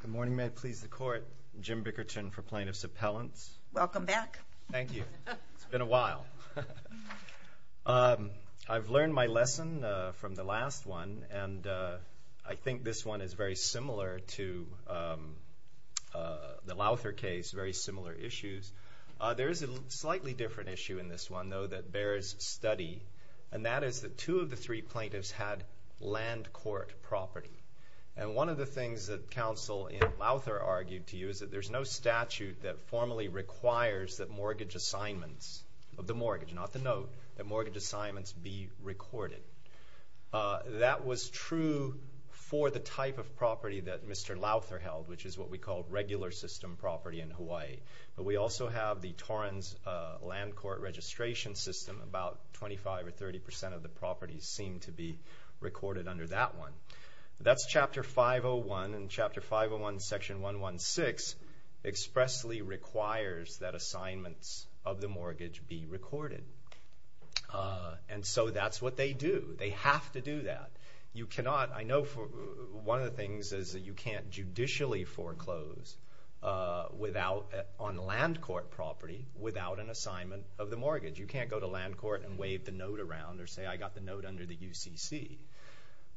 Good morning, may it please the Court. Jim Bickerton for Plaintiffs' Appellants. Welcome back. Thank you. It's been a while. I've learned my lesson from the last one, and I think this one is very similar to the Lowther case, very similar issues. There is a slightly different issue in this one, though, that bears study, and that is that two of the three plaintiffs had land court property. And one of the things that counsel in Lowther argued to you is that there's no statute that formally requires that mortgage assignments of the mortgage, not the note, that mortgage assignments be recorded. That was true for the type of property that Mr. Lowther held, which is what we call regular system property in Hawaii. But we also have the Torrens land court registration system. About 25 or 30 percent of the properties seem to be that's chapter 501, and chapter 501 section 116 expressly requires that assignments of the mortgage be recorded. And so that's what they do. They have to do that. You cannot, I know one of the things is that you can't judicially foreclose on land court property without an assignment of the mortgage. You can't go to land court and wave the note around or say I got the note under the UCC.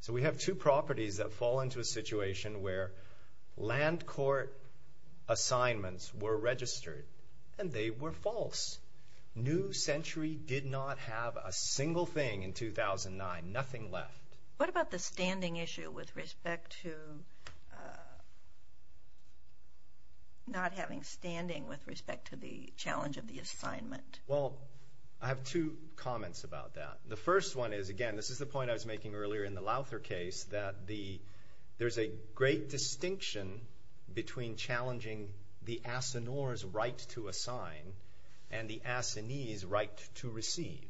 So we have two properties that fall into a situation where land court assignments were registered and they were false. New Century did not have a single thing in 2009, nothing left. What about the standing issue with respect to not having standing with respect to the challenge of the assignment? Well, I have two comments about that. The first one is, again, this is the point I was making earlier in the Lauther case, that there's a great distinction between challenging the assignor's right to assign and the assignee's right to receive.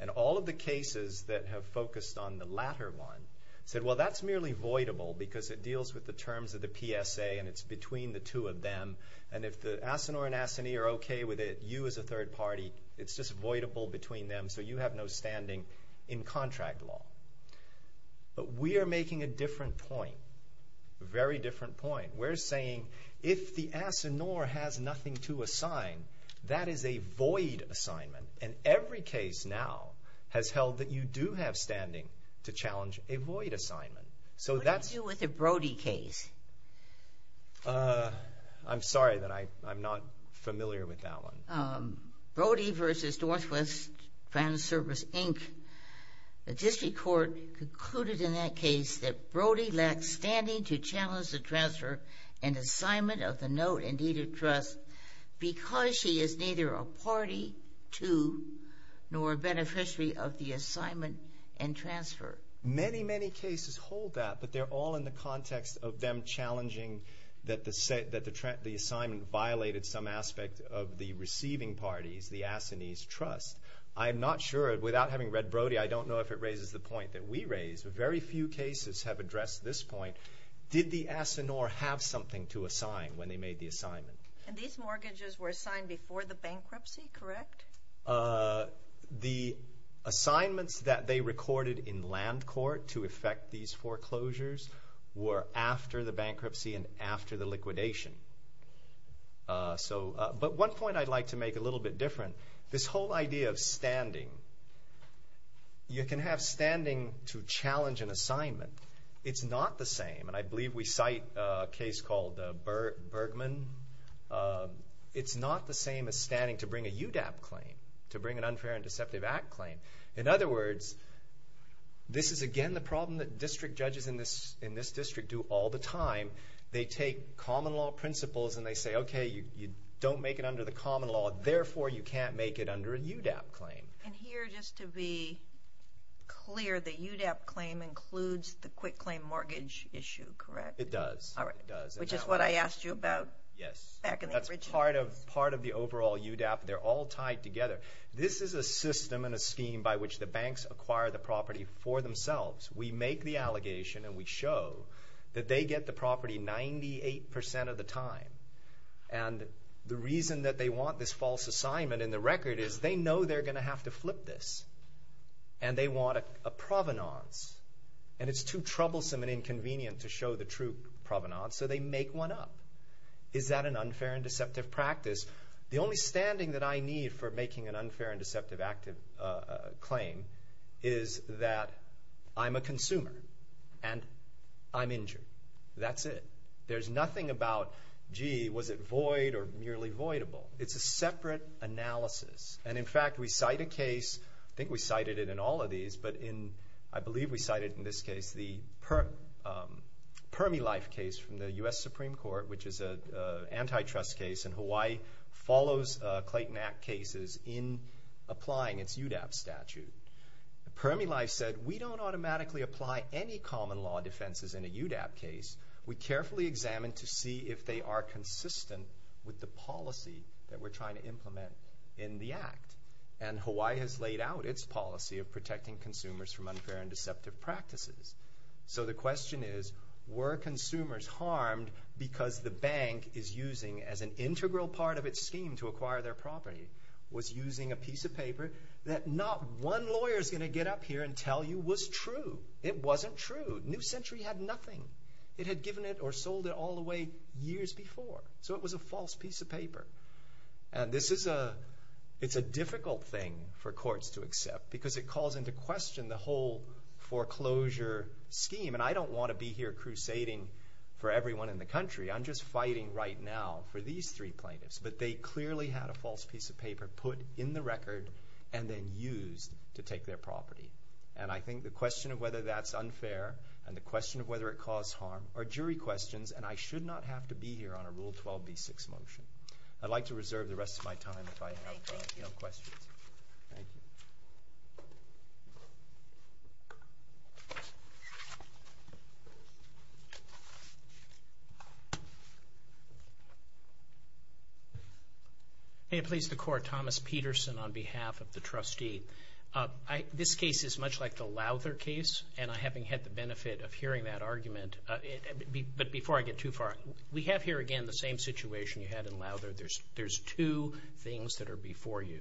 And all of the cases that have focused on the latter one said, well, that's merely voidable because it deals with the terms of the PSA and it's between the two of them. And if the assignor and assignee are okay with it, you as a third party, it's just voidable between them, so you have no standing in contract law. But we are making a different point, a very different point. We're saying if the assignor has nothing to assign, that is a void assignment. And every case now has held that you do have standing to challenge a void assignment. What do you do with a Brody case? I'm sorry, I'm not familiar with that one. Brody v. Northwest Grand Service, Inc. The district court concluded in that case that Brody lacked standing to challenge the transfer and assignment of the note and deed of trust because she is neither a party to nor a beneficiary of the assignment and transfer. Many, many cases hold that, but they're all in the context of them challenging that the assignment violated some aspect of the receiving parties, the assignee's trust. I'm not sure, without having read Brody, I don't know if it raises the point that we raise. Very few cases have addressed this point. Did the assignor have something to assign when they made the assignment? And these mortgages were assigned before the bankruptcy, correct? The assignments that they recorded in land court to effect these foreclosures were after the bankruptcy and after the liquidation. But one point I'd like to make a little bit different, this whole idea of standing, you can have standing to challenge an assignment. It's not the same. And I believe we cite a case called Bergman. It's not the same as standing to bring a UDAP claim, to bring an unfair and deceptive act claim. In other words, this is again the problem that district judges in this district do all the time. They take common law principles and they say, okay, you don't make it under the common law, therefore you can't make it under a UDAP claim. And here, just to be clear, the UDAP claim includes the quick claim mortgage issue, correct? It does. Which is what I asked you about. Yes. That's part of the overall UDAP. They're all tied together. This is a system and a scheme by which the banks acquire the property for themselves. We make the allegation and we get the property 98% of the time. The reason that they want this false assignment in the record is they know they're going to have to flip this. And they want a provenance. And it's too troublesome and inconvenient to show the true provenance, so they make one up. Is that an unfair and deceptive practice? The only standing that I need for making an unfair and deceptive claim is that I'm a consumer and I'm injured. That's it. There's nothing about, gee, was it void or nearly voidable? It's a separate analysis. And in fact, we cite a case, I think we cited it in all of these, but I believe we cited in this case the Permilife case from the U.S. Supreme Court, which is an antitrust case and Hawaii follows Clayton Act cases in applying its UDAP statute. Permilife said, we don't automatically apply any common law defenses in a UDAP case. We carefully examine to see if they are consistent with the policy that we're trying to implement in the Act. And Hawaii has laid out its policy of protecting consumers from unfair and deceptive practices. So the question is, were consumers harmed because the bank is using as an integral part of its scheme to acquire their property, was using a piece of paper that not one lawyer is going to get up here and tell you was true. It wasn't true. New Century had nothing. It had given it or sold it all the way years before. So it was a false piece of paper. And this is a, it's a difficult thing for courts to accept because it calls into question the whole foreclosure scheme. And I don't want to be here crusading for everyone in the country. I'm just fighting right now for these three plaintiffs. But they clearly had a false piece of paper put in the record and then used to take their property. And I think the question of whether that's unfair and the question of whether it caused harm are jury questions and I should not have to be here on a Rule 12b6 motion. I'd like to reserve the rest of my time if I have questions. Thank you. May it please the court. Thomas Peterson on behalf of the trustee. This case is much like the Lowther case and I haven't had the benefit of hearing that argument. But before I get too far we have here again the same situation you had in Lowther. There's two things that are before you.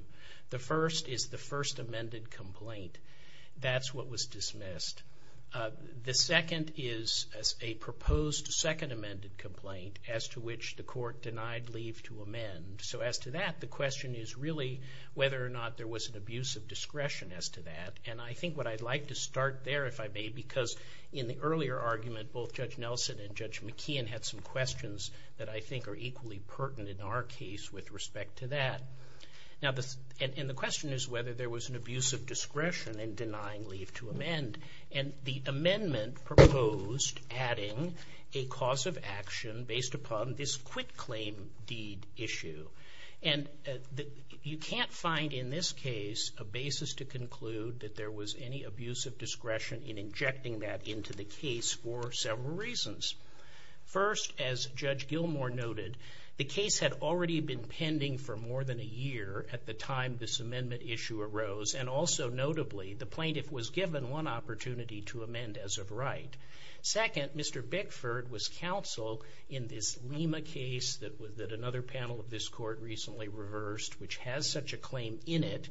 The first is the first amended complaint. That's what was dismissed. The second is a proposed second amended complaint as to which the court denied leave to amend. So as to that the question is really whether or not there was an abuse of discretion as to that. And I think what I'd like to start there if I may because in the earlier argument both Judge Nelson and Judge McKeon had some questions that I think are equally pertinent in our case with respect to that. And the question is whether there was an abuse of discretion in denying leave to amend and the amendment proposed adding a cause of action based upon this quit claim deed issue. And you can't find in this case a basis to conclude that there was any abuse of discretion in injecting that into the case for several reasons. First as Judge Gilmore noted the case had already been pending for more than a year at the time this amendment issue arose and also notably the plaintiff was given one opportunity to amend as of right. Second, Mr. Bickford was counsel in this Lima case that another panel of this court recently reversed which has such a claim in it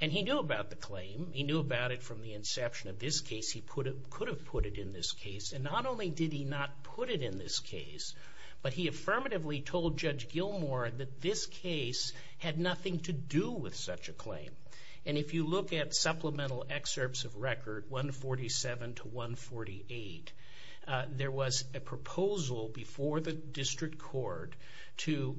and he knew about the claim. He knew about it from the inception of this case. He could have put it in this case and not only did he not put it in this case, but he affirmatively told Judge Gilmore that this case had nothing to do with such a claim. And if you look at supplemental excerpts of record 147 to 148, there was a proposal before the district court to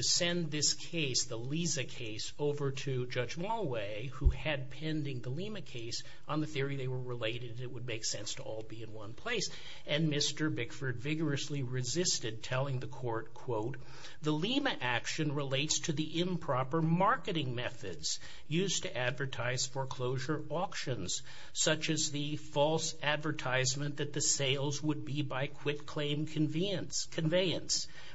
send this case, the Liza case, over to Judge Mulway who had pending the Lima case on the theory they were related and it would make sense to all be in one place. And Mr. Bickford vigorously resisted telling the court, quote, the Lima action relates to the improper marketing methods used to advertise foreclosure auctions such as the false advertisement that the sales would be by quit claim conveyance.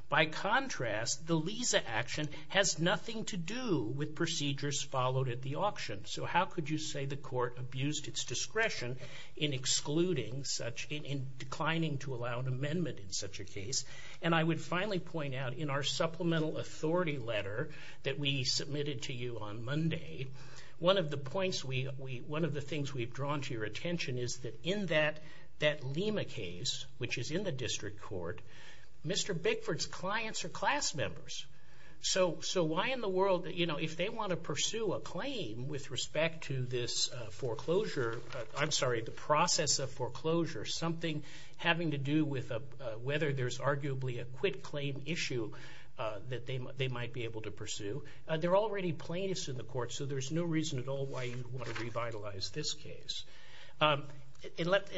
By contrast, the Liza action has nothing to do with procedures followed at the auction. So how could you say the court abused its discretion in excluding such, in declining to allow an amendment in such a case? And I would finally point out in our supplemental authority letter that we submitted to you on Monday, one of the points we, one of the things we've drawn to your attention is that in that Lima case, which is in the district court, Mr. Bickford's clients are class members. So why in the world, you know, if they want to pursue a claim with respect to this foreclosure, I'm sorry, the process of foreclosure, something having to do with whether there's arguably a quit claim issue that they might be able to pursue, they're already plaintiffs in the court, so there's no reason at all why you'd want to revitalize this case. And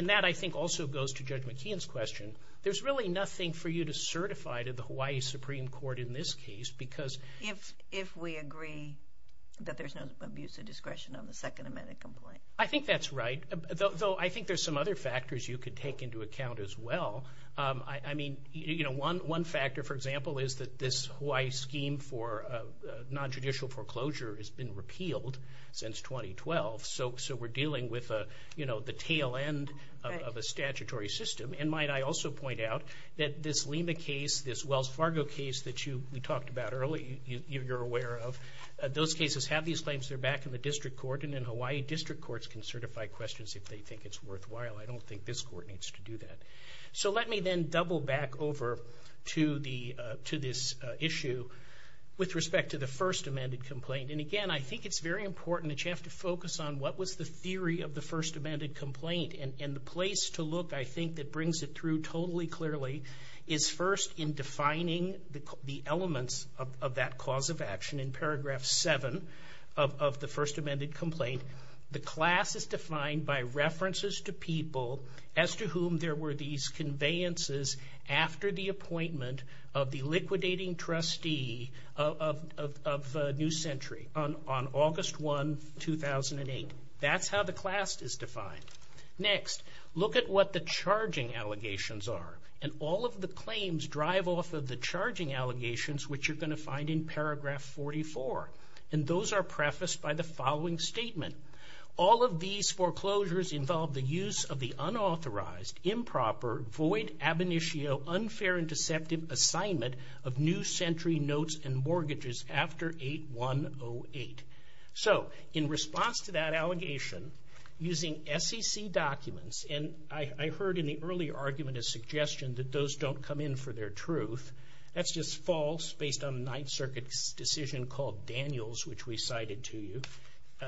that I think also goes to Judge McKeon's question. There's really nothing for you to certify to the Hawaii Supreme Court in this case because... If we agree that there's no abuse of discretion on the Second Amendment complaint. I think that's right, though I think there's some other factors you could take into account as well. I mean, you know, one factor, for example, is that this Hawaii scheme for non-judicial foreclosure has been repealed since 2012, so we're dealing with, you know, the tail end of a statutory system. And might I also point out that this Lima case, this Wells Fargo case that you talked about earlier, you're aware of, those cases have these claims, they're back in the District Court, and then Hawaii District Courts can certify questions if they think it's worthwhile. I don't think this court needs to do that. So let me then double back over to this issue with respect to the First Amendment complaint. And again, I think it's very important that you have to focus on what was the theory of the First Amendment complaint? And the place to look I think that brings it through totally clearly is first in defining the elements of that cause of action in paragraph 7 of the First Amendment complaint, the class is defined by references to people as to whom there were these conveyances after the appointment of the liquidating trustee of New Century on August 1, 2008. That's how the class is defined. Next, look at what the charging allegations are. And all of the claims drive off of the charging allegations which you're going to find in paragraph 44. And those are prefaced by the following statement. All of these foreclosures involve the use of the unauthorized, improper, void, ab initio, unfair and deceptive assignment of New Century notes and mortgages after 8-1-0-8. So, in response to that allegation using SEC documents, and I heard in the earlier argument a suggestion that those don't come in for their truth. That's just false based on the Ninth Circuit's decision called Daniels which we cited to you.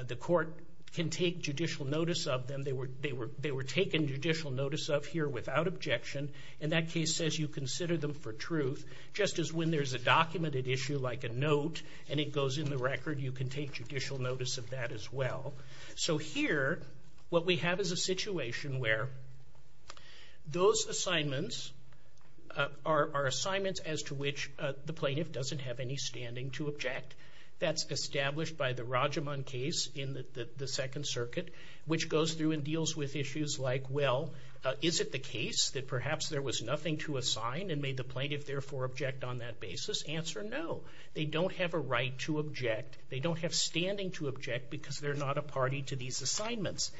The court can take judicial notice of them. They were taken judicial notice of here without objection and that case says you consider them for truth. Just as when there's a documented issue like a note and it goes in the record, you can take judicial notice of that as well. So here, what we have is a situation where those assignments are assignments as to which the plaintiff doesn't have any standing to object. That's established by the Rajaman case in the Second Circuit which goes through and deals with issues like, well is it the case that perhaps there was nothing to assign and may the plaintiff therefore object on that basis? Answer, no. They don't have a right to object. They don't have standing to object because they're not a party to these assignments.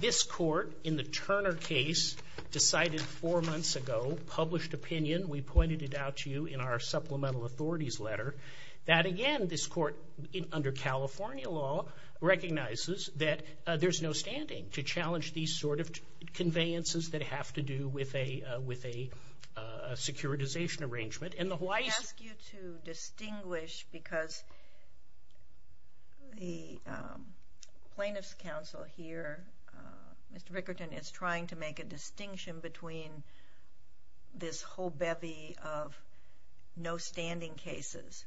This court in the Turner case decided four months ago, published opinion, we pointed it out to you in our supplemental authorities letter, that again this court under California law recognizes that there's no standing to challenge these sort of conveyances that have to do with a securitization arrangement. And the Hawaii... I ask you to distinguish because the plaintiff's counsel here, Mr. Rickerton, is trying to make a distinction between this whole bevy of no standing cases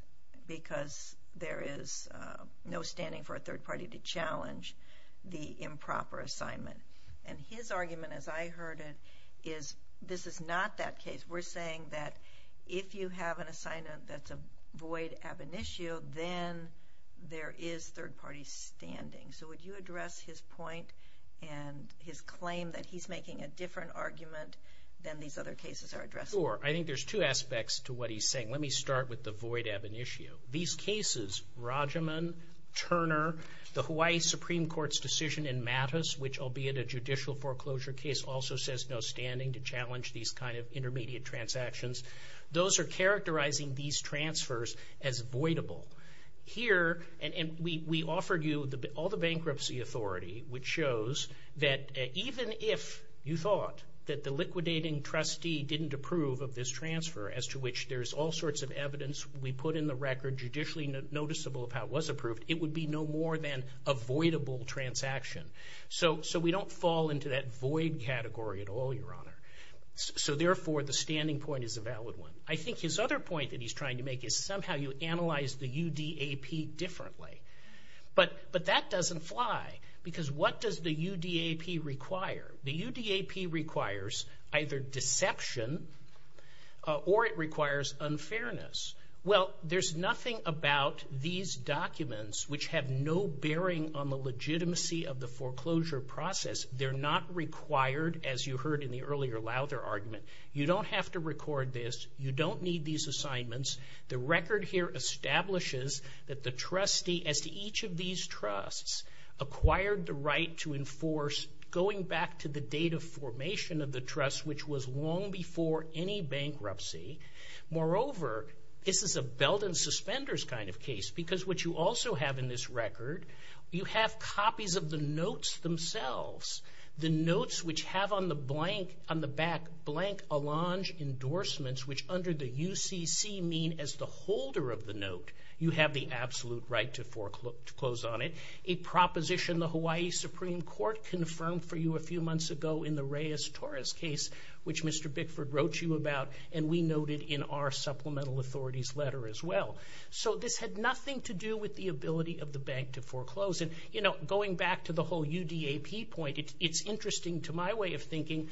because there is no standing for a third party to challenge the improper assignment. And his argument, as I heard it, is this is not that case. We're saying that if you have an assignment that's a void ab initio, then there is no standing to address his point and his claim that he's making a different argument than these other cases are addressing. Sure, I think there's two aspects to what he's saying. Let me start with the void ab initio. These cases, Rajaman, Turner, the Hawaii Supreme Court's decision in Mattis, which albeit a judicial foreclosure case, also says no standing to challenge these kind of intermediate transactions. Those are characterizing these transfers as voidable. Here, and we offered you all the bankruptcy authority, which shows that even if you thought that the liquidating trustee didn't approve of this transfer, as to which there's all sorts of evidence we put in the record, judicially noticeable of how it was approved, it would be no more than a voidable transaction. So we don't fall into that void category at all, Your Honor. So therefore, the standing point is a valid one. I think his other point that he's trying to make is somehow you analyze the but that doesn't fly, because what does the UDAP require? The UDAP requires either deception or it requires unfairness. Well, there's nothing about these documents which have no bearing on the legitimacy of the foreclosure process. They're not required as you heard in the earlier, louder argument. You don't have to record this. You don't need these assignments. The record here establishes that the trustee, as to each of these trusts, acquired the right to enforce, going back to the date of formation of the trust, which was long before any bankruptcy. Moreover, this is a belt and suspenders kind of case, because what you also have in this record, you have copies of the notes themselves. The notes which have on the blank, on the back, blank Allonge endorsements, which under the UCC mean as the absolute right to foreclose on it. A proposition the Hawaii Supreme Court confirmed for you a few months ago in the Reyes-Torres case, which Mr. Bickford wrote you about, and we noted in our supplemental authorities letter as well. So this had nothing to do with the ability of the bank to foreclose. And, you know, going back to the whole UDAP point, it's interesting to my way of thinking,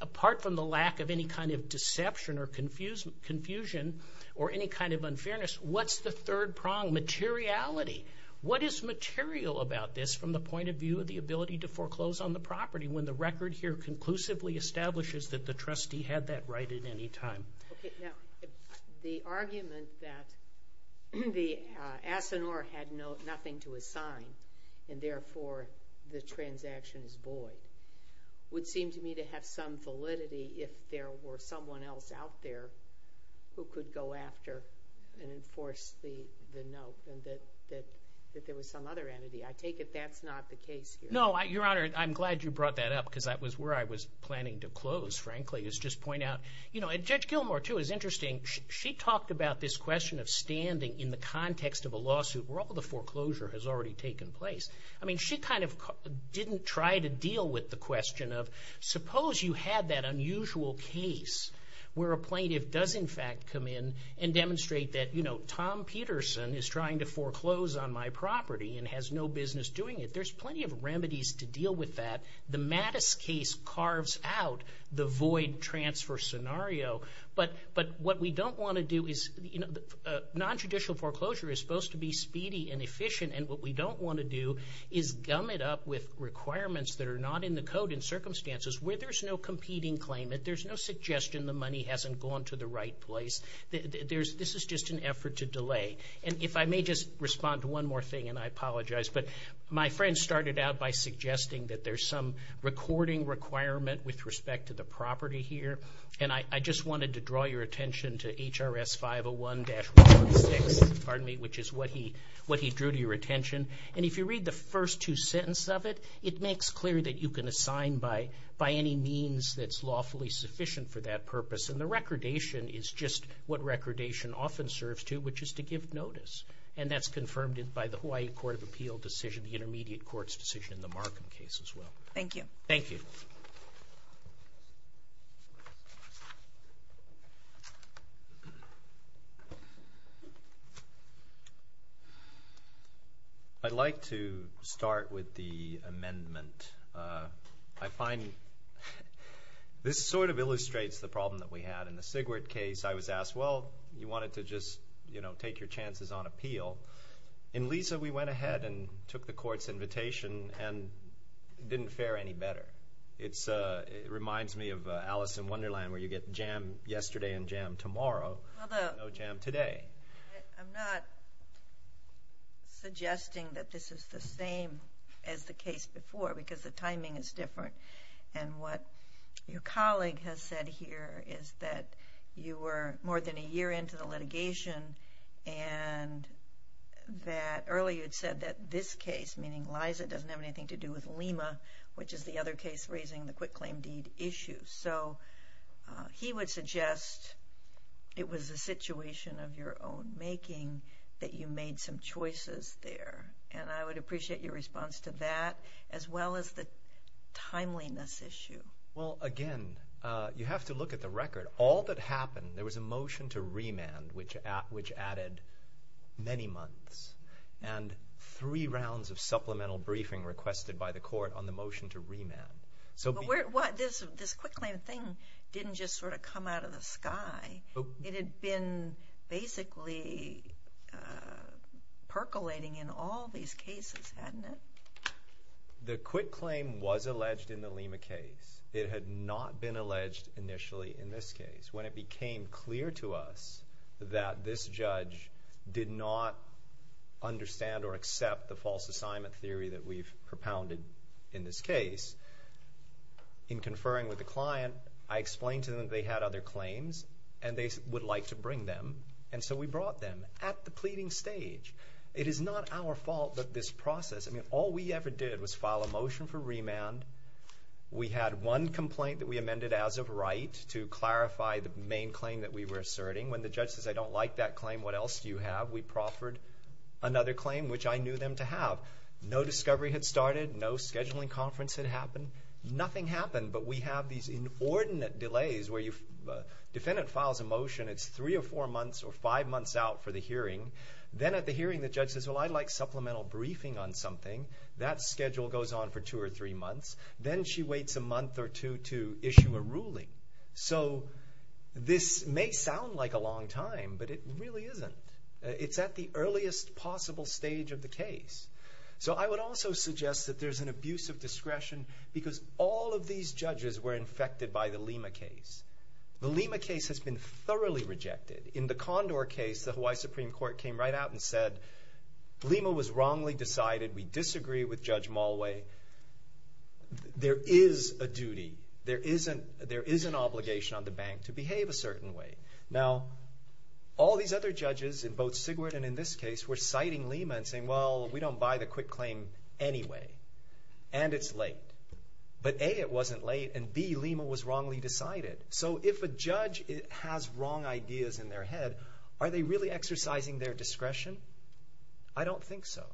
apart from the lack of any kind of deception or confusion or any kind of unfairness, what's the third prong? Materiality. What is material about this from the point of view of the ability to foreclose on the property when the record here conclusively establishes that the trustee had that right at any time? Okay, now, the argument that the ASINOR had nothing to assign, and therefore the transaction is void, would seem to me to have some validity if there were someone else out there who could go after and enforce the note, and that there was some other entity. I take it that's not the case here. No, Your Honor, I'm glad you brought that up, because that was where I was planning to close, frankly, is just point out. You know, Judge Gilmour, too, is interesting. She talked about this question of standing in the context of a lawsuit where all the foreclosure has already taken place. I mean, she kind of didn't try to deal with the question of, suppose you had that unusual case where a plaintiff does, in fact, come in and demonstrate that, you know, Tom Peterson is trying to foreclose on my property and has no business doing it. There's plenty of remedies to deal with that. The Mattis case carves out the void transfer scenario, but what we don't want to do is, you know, nonjudicial foreclosure is supposed to be speedy and efficient, and what we don't want to do is gum it up with requirements that are not in the code in circumstances where there's no competing claimant. There's no suggestion the money hasn't gone to the right place. This is just an effort to delay, and if I may just respond to one more thing, and I apologize, but my friend started out by suggesting that there's some recording requirement with respect to the property here, and I just wanted to draw your attention to HRS 501-146, which is what he drew to your attention, and if you read the first two sentences of it, it makes clear that you can assign by any means that's lawfully sufficient for that purpose, and the recordation is just what recordation often serves to, which is to give notice, and that's confirmed by the Hawaii Court of Appeal decision, the intermediate court's decision in the Markham case as well. Thank you. Thank you. I'd like to start with the amendment. I find this sort of illustrates the problem that we had in the Sigwert case. I was asked, well, you wanted to just take your chances on appeal. In Lisa, we went ahead and took the court's invitation and it didn't fare any better. It reminds me of Alice in Wonderland where you get jam yesterday and jam tomorrow and no jam today. I'm not suggesting that this is the same as the case before because the timing is different, and what your colleague has said here is that you were more than a year into the litigation and that earlier you had said that this case, meaning Lisa, doesn't have anything to do with Lima, which is the other case raising the quick claim deed issue, so he would suggest it was a situation of your own making that you made some choices there, and I would appreciate your response to that as well as the timeliness issue. Well, again, you have to look at the record. All that happened there was a motion to remand which added many months and three rounds of supplemental briefing requested by the court on the motion to remand. This quick claim thing didn't just sort of come out of the sky. It had been basically percolating in all these cases, hadn't it? The quick claim was alleged in the Lima case. It had not been alleged initially in this case. When it became clear to us that this client did not understand or accept the false assignment theory that we've propounded in this case, in conferring with the client, I explained to them that they had other claims and they would like to bring them, and so we brought them at the pleading stage. It is not our fault that this process, I mean, all we ever did was file a motion for remand. We had one complaint that we amended as of right to clarify the main claim that we were asserting. When the judge says, I don't like that claim. What else do you have? We proffered another claim, which I knew them to have. No discovery had started. No scheduling conference had happened. Nothing happened, but we have these inordinate delays where the defendant files a motion. It's three or four months or five months out for the hearing. Then at the hearing, the judge says, well, I'd like supplemental briefing on something. That schedule goes on for two or three months. Then she waits a month or two to issue a ruling. This may sound like a long time, but it really isn't. It's at the earliest possible stage of the case. I would also suggest that there's an abuse of discretion because all of these judges were infected by the Lima case. The Lima case has been thoroughly rejected. In the Condor case, the Hawaii Supreme Court came right out and said, Lima was wrongly decided. We disagree with Judge Malway. There is a duty. There is an obligation on the bank to behave a certain way. Now, all these other judges, in both Sigward and in this case, were citing Lima and saying, well, we don't buy the quick claim anyway. And it's late. But A, it wasn't late, and B, Lima was wrongly decided. So if a judge has wrong ideas in their head, are they really exercising their discretion? I don't think so.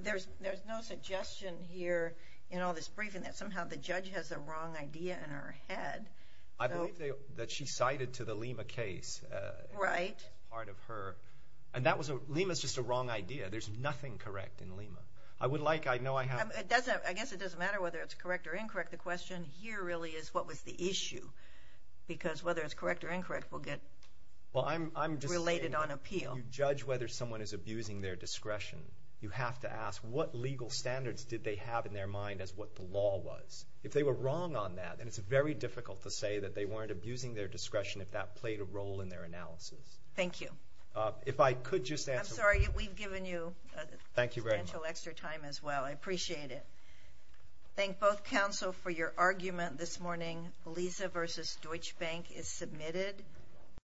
There's no suggestion here in all this briefing that somehow the judge has a wrong idea in her head. I believe that she cited to the Lima case part of her. And Lima's just a wrong idea. There's nothing correct in Lima. I guess it doesn't matter whether it's correct or incorrect. The question here really is, what was the issue? Because whether it's correct or incorrect will get related on whether the judge was abusing their discretion. You have to ask, what legal standards did they have in their mind as what the law was? If they were wrong on that, and it's very difficult to say that they weren't abusing their discretion if that played a role in their analysis. Thank you. I'm sorry, we've given you substantial extra time as well. I appreciate it. Thank both counsel for your argument this morning. Lisa v. Deutsche Bank is submitted.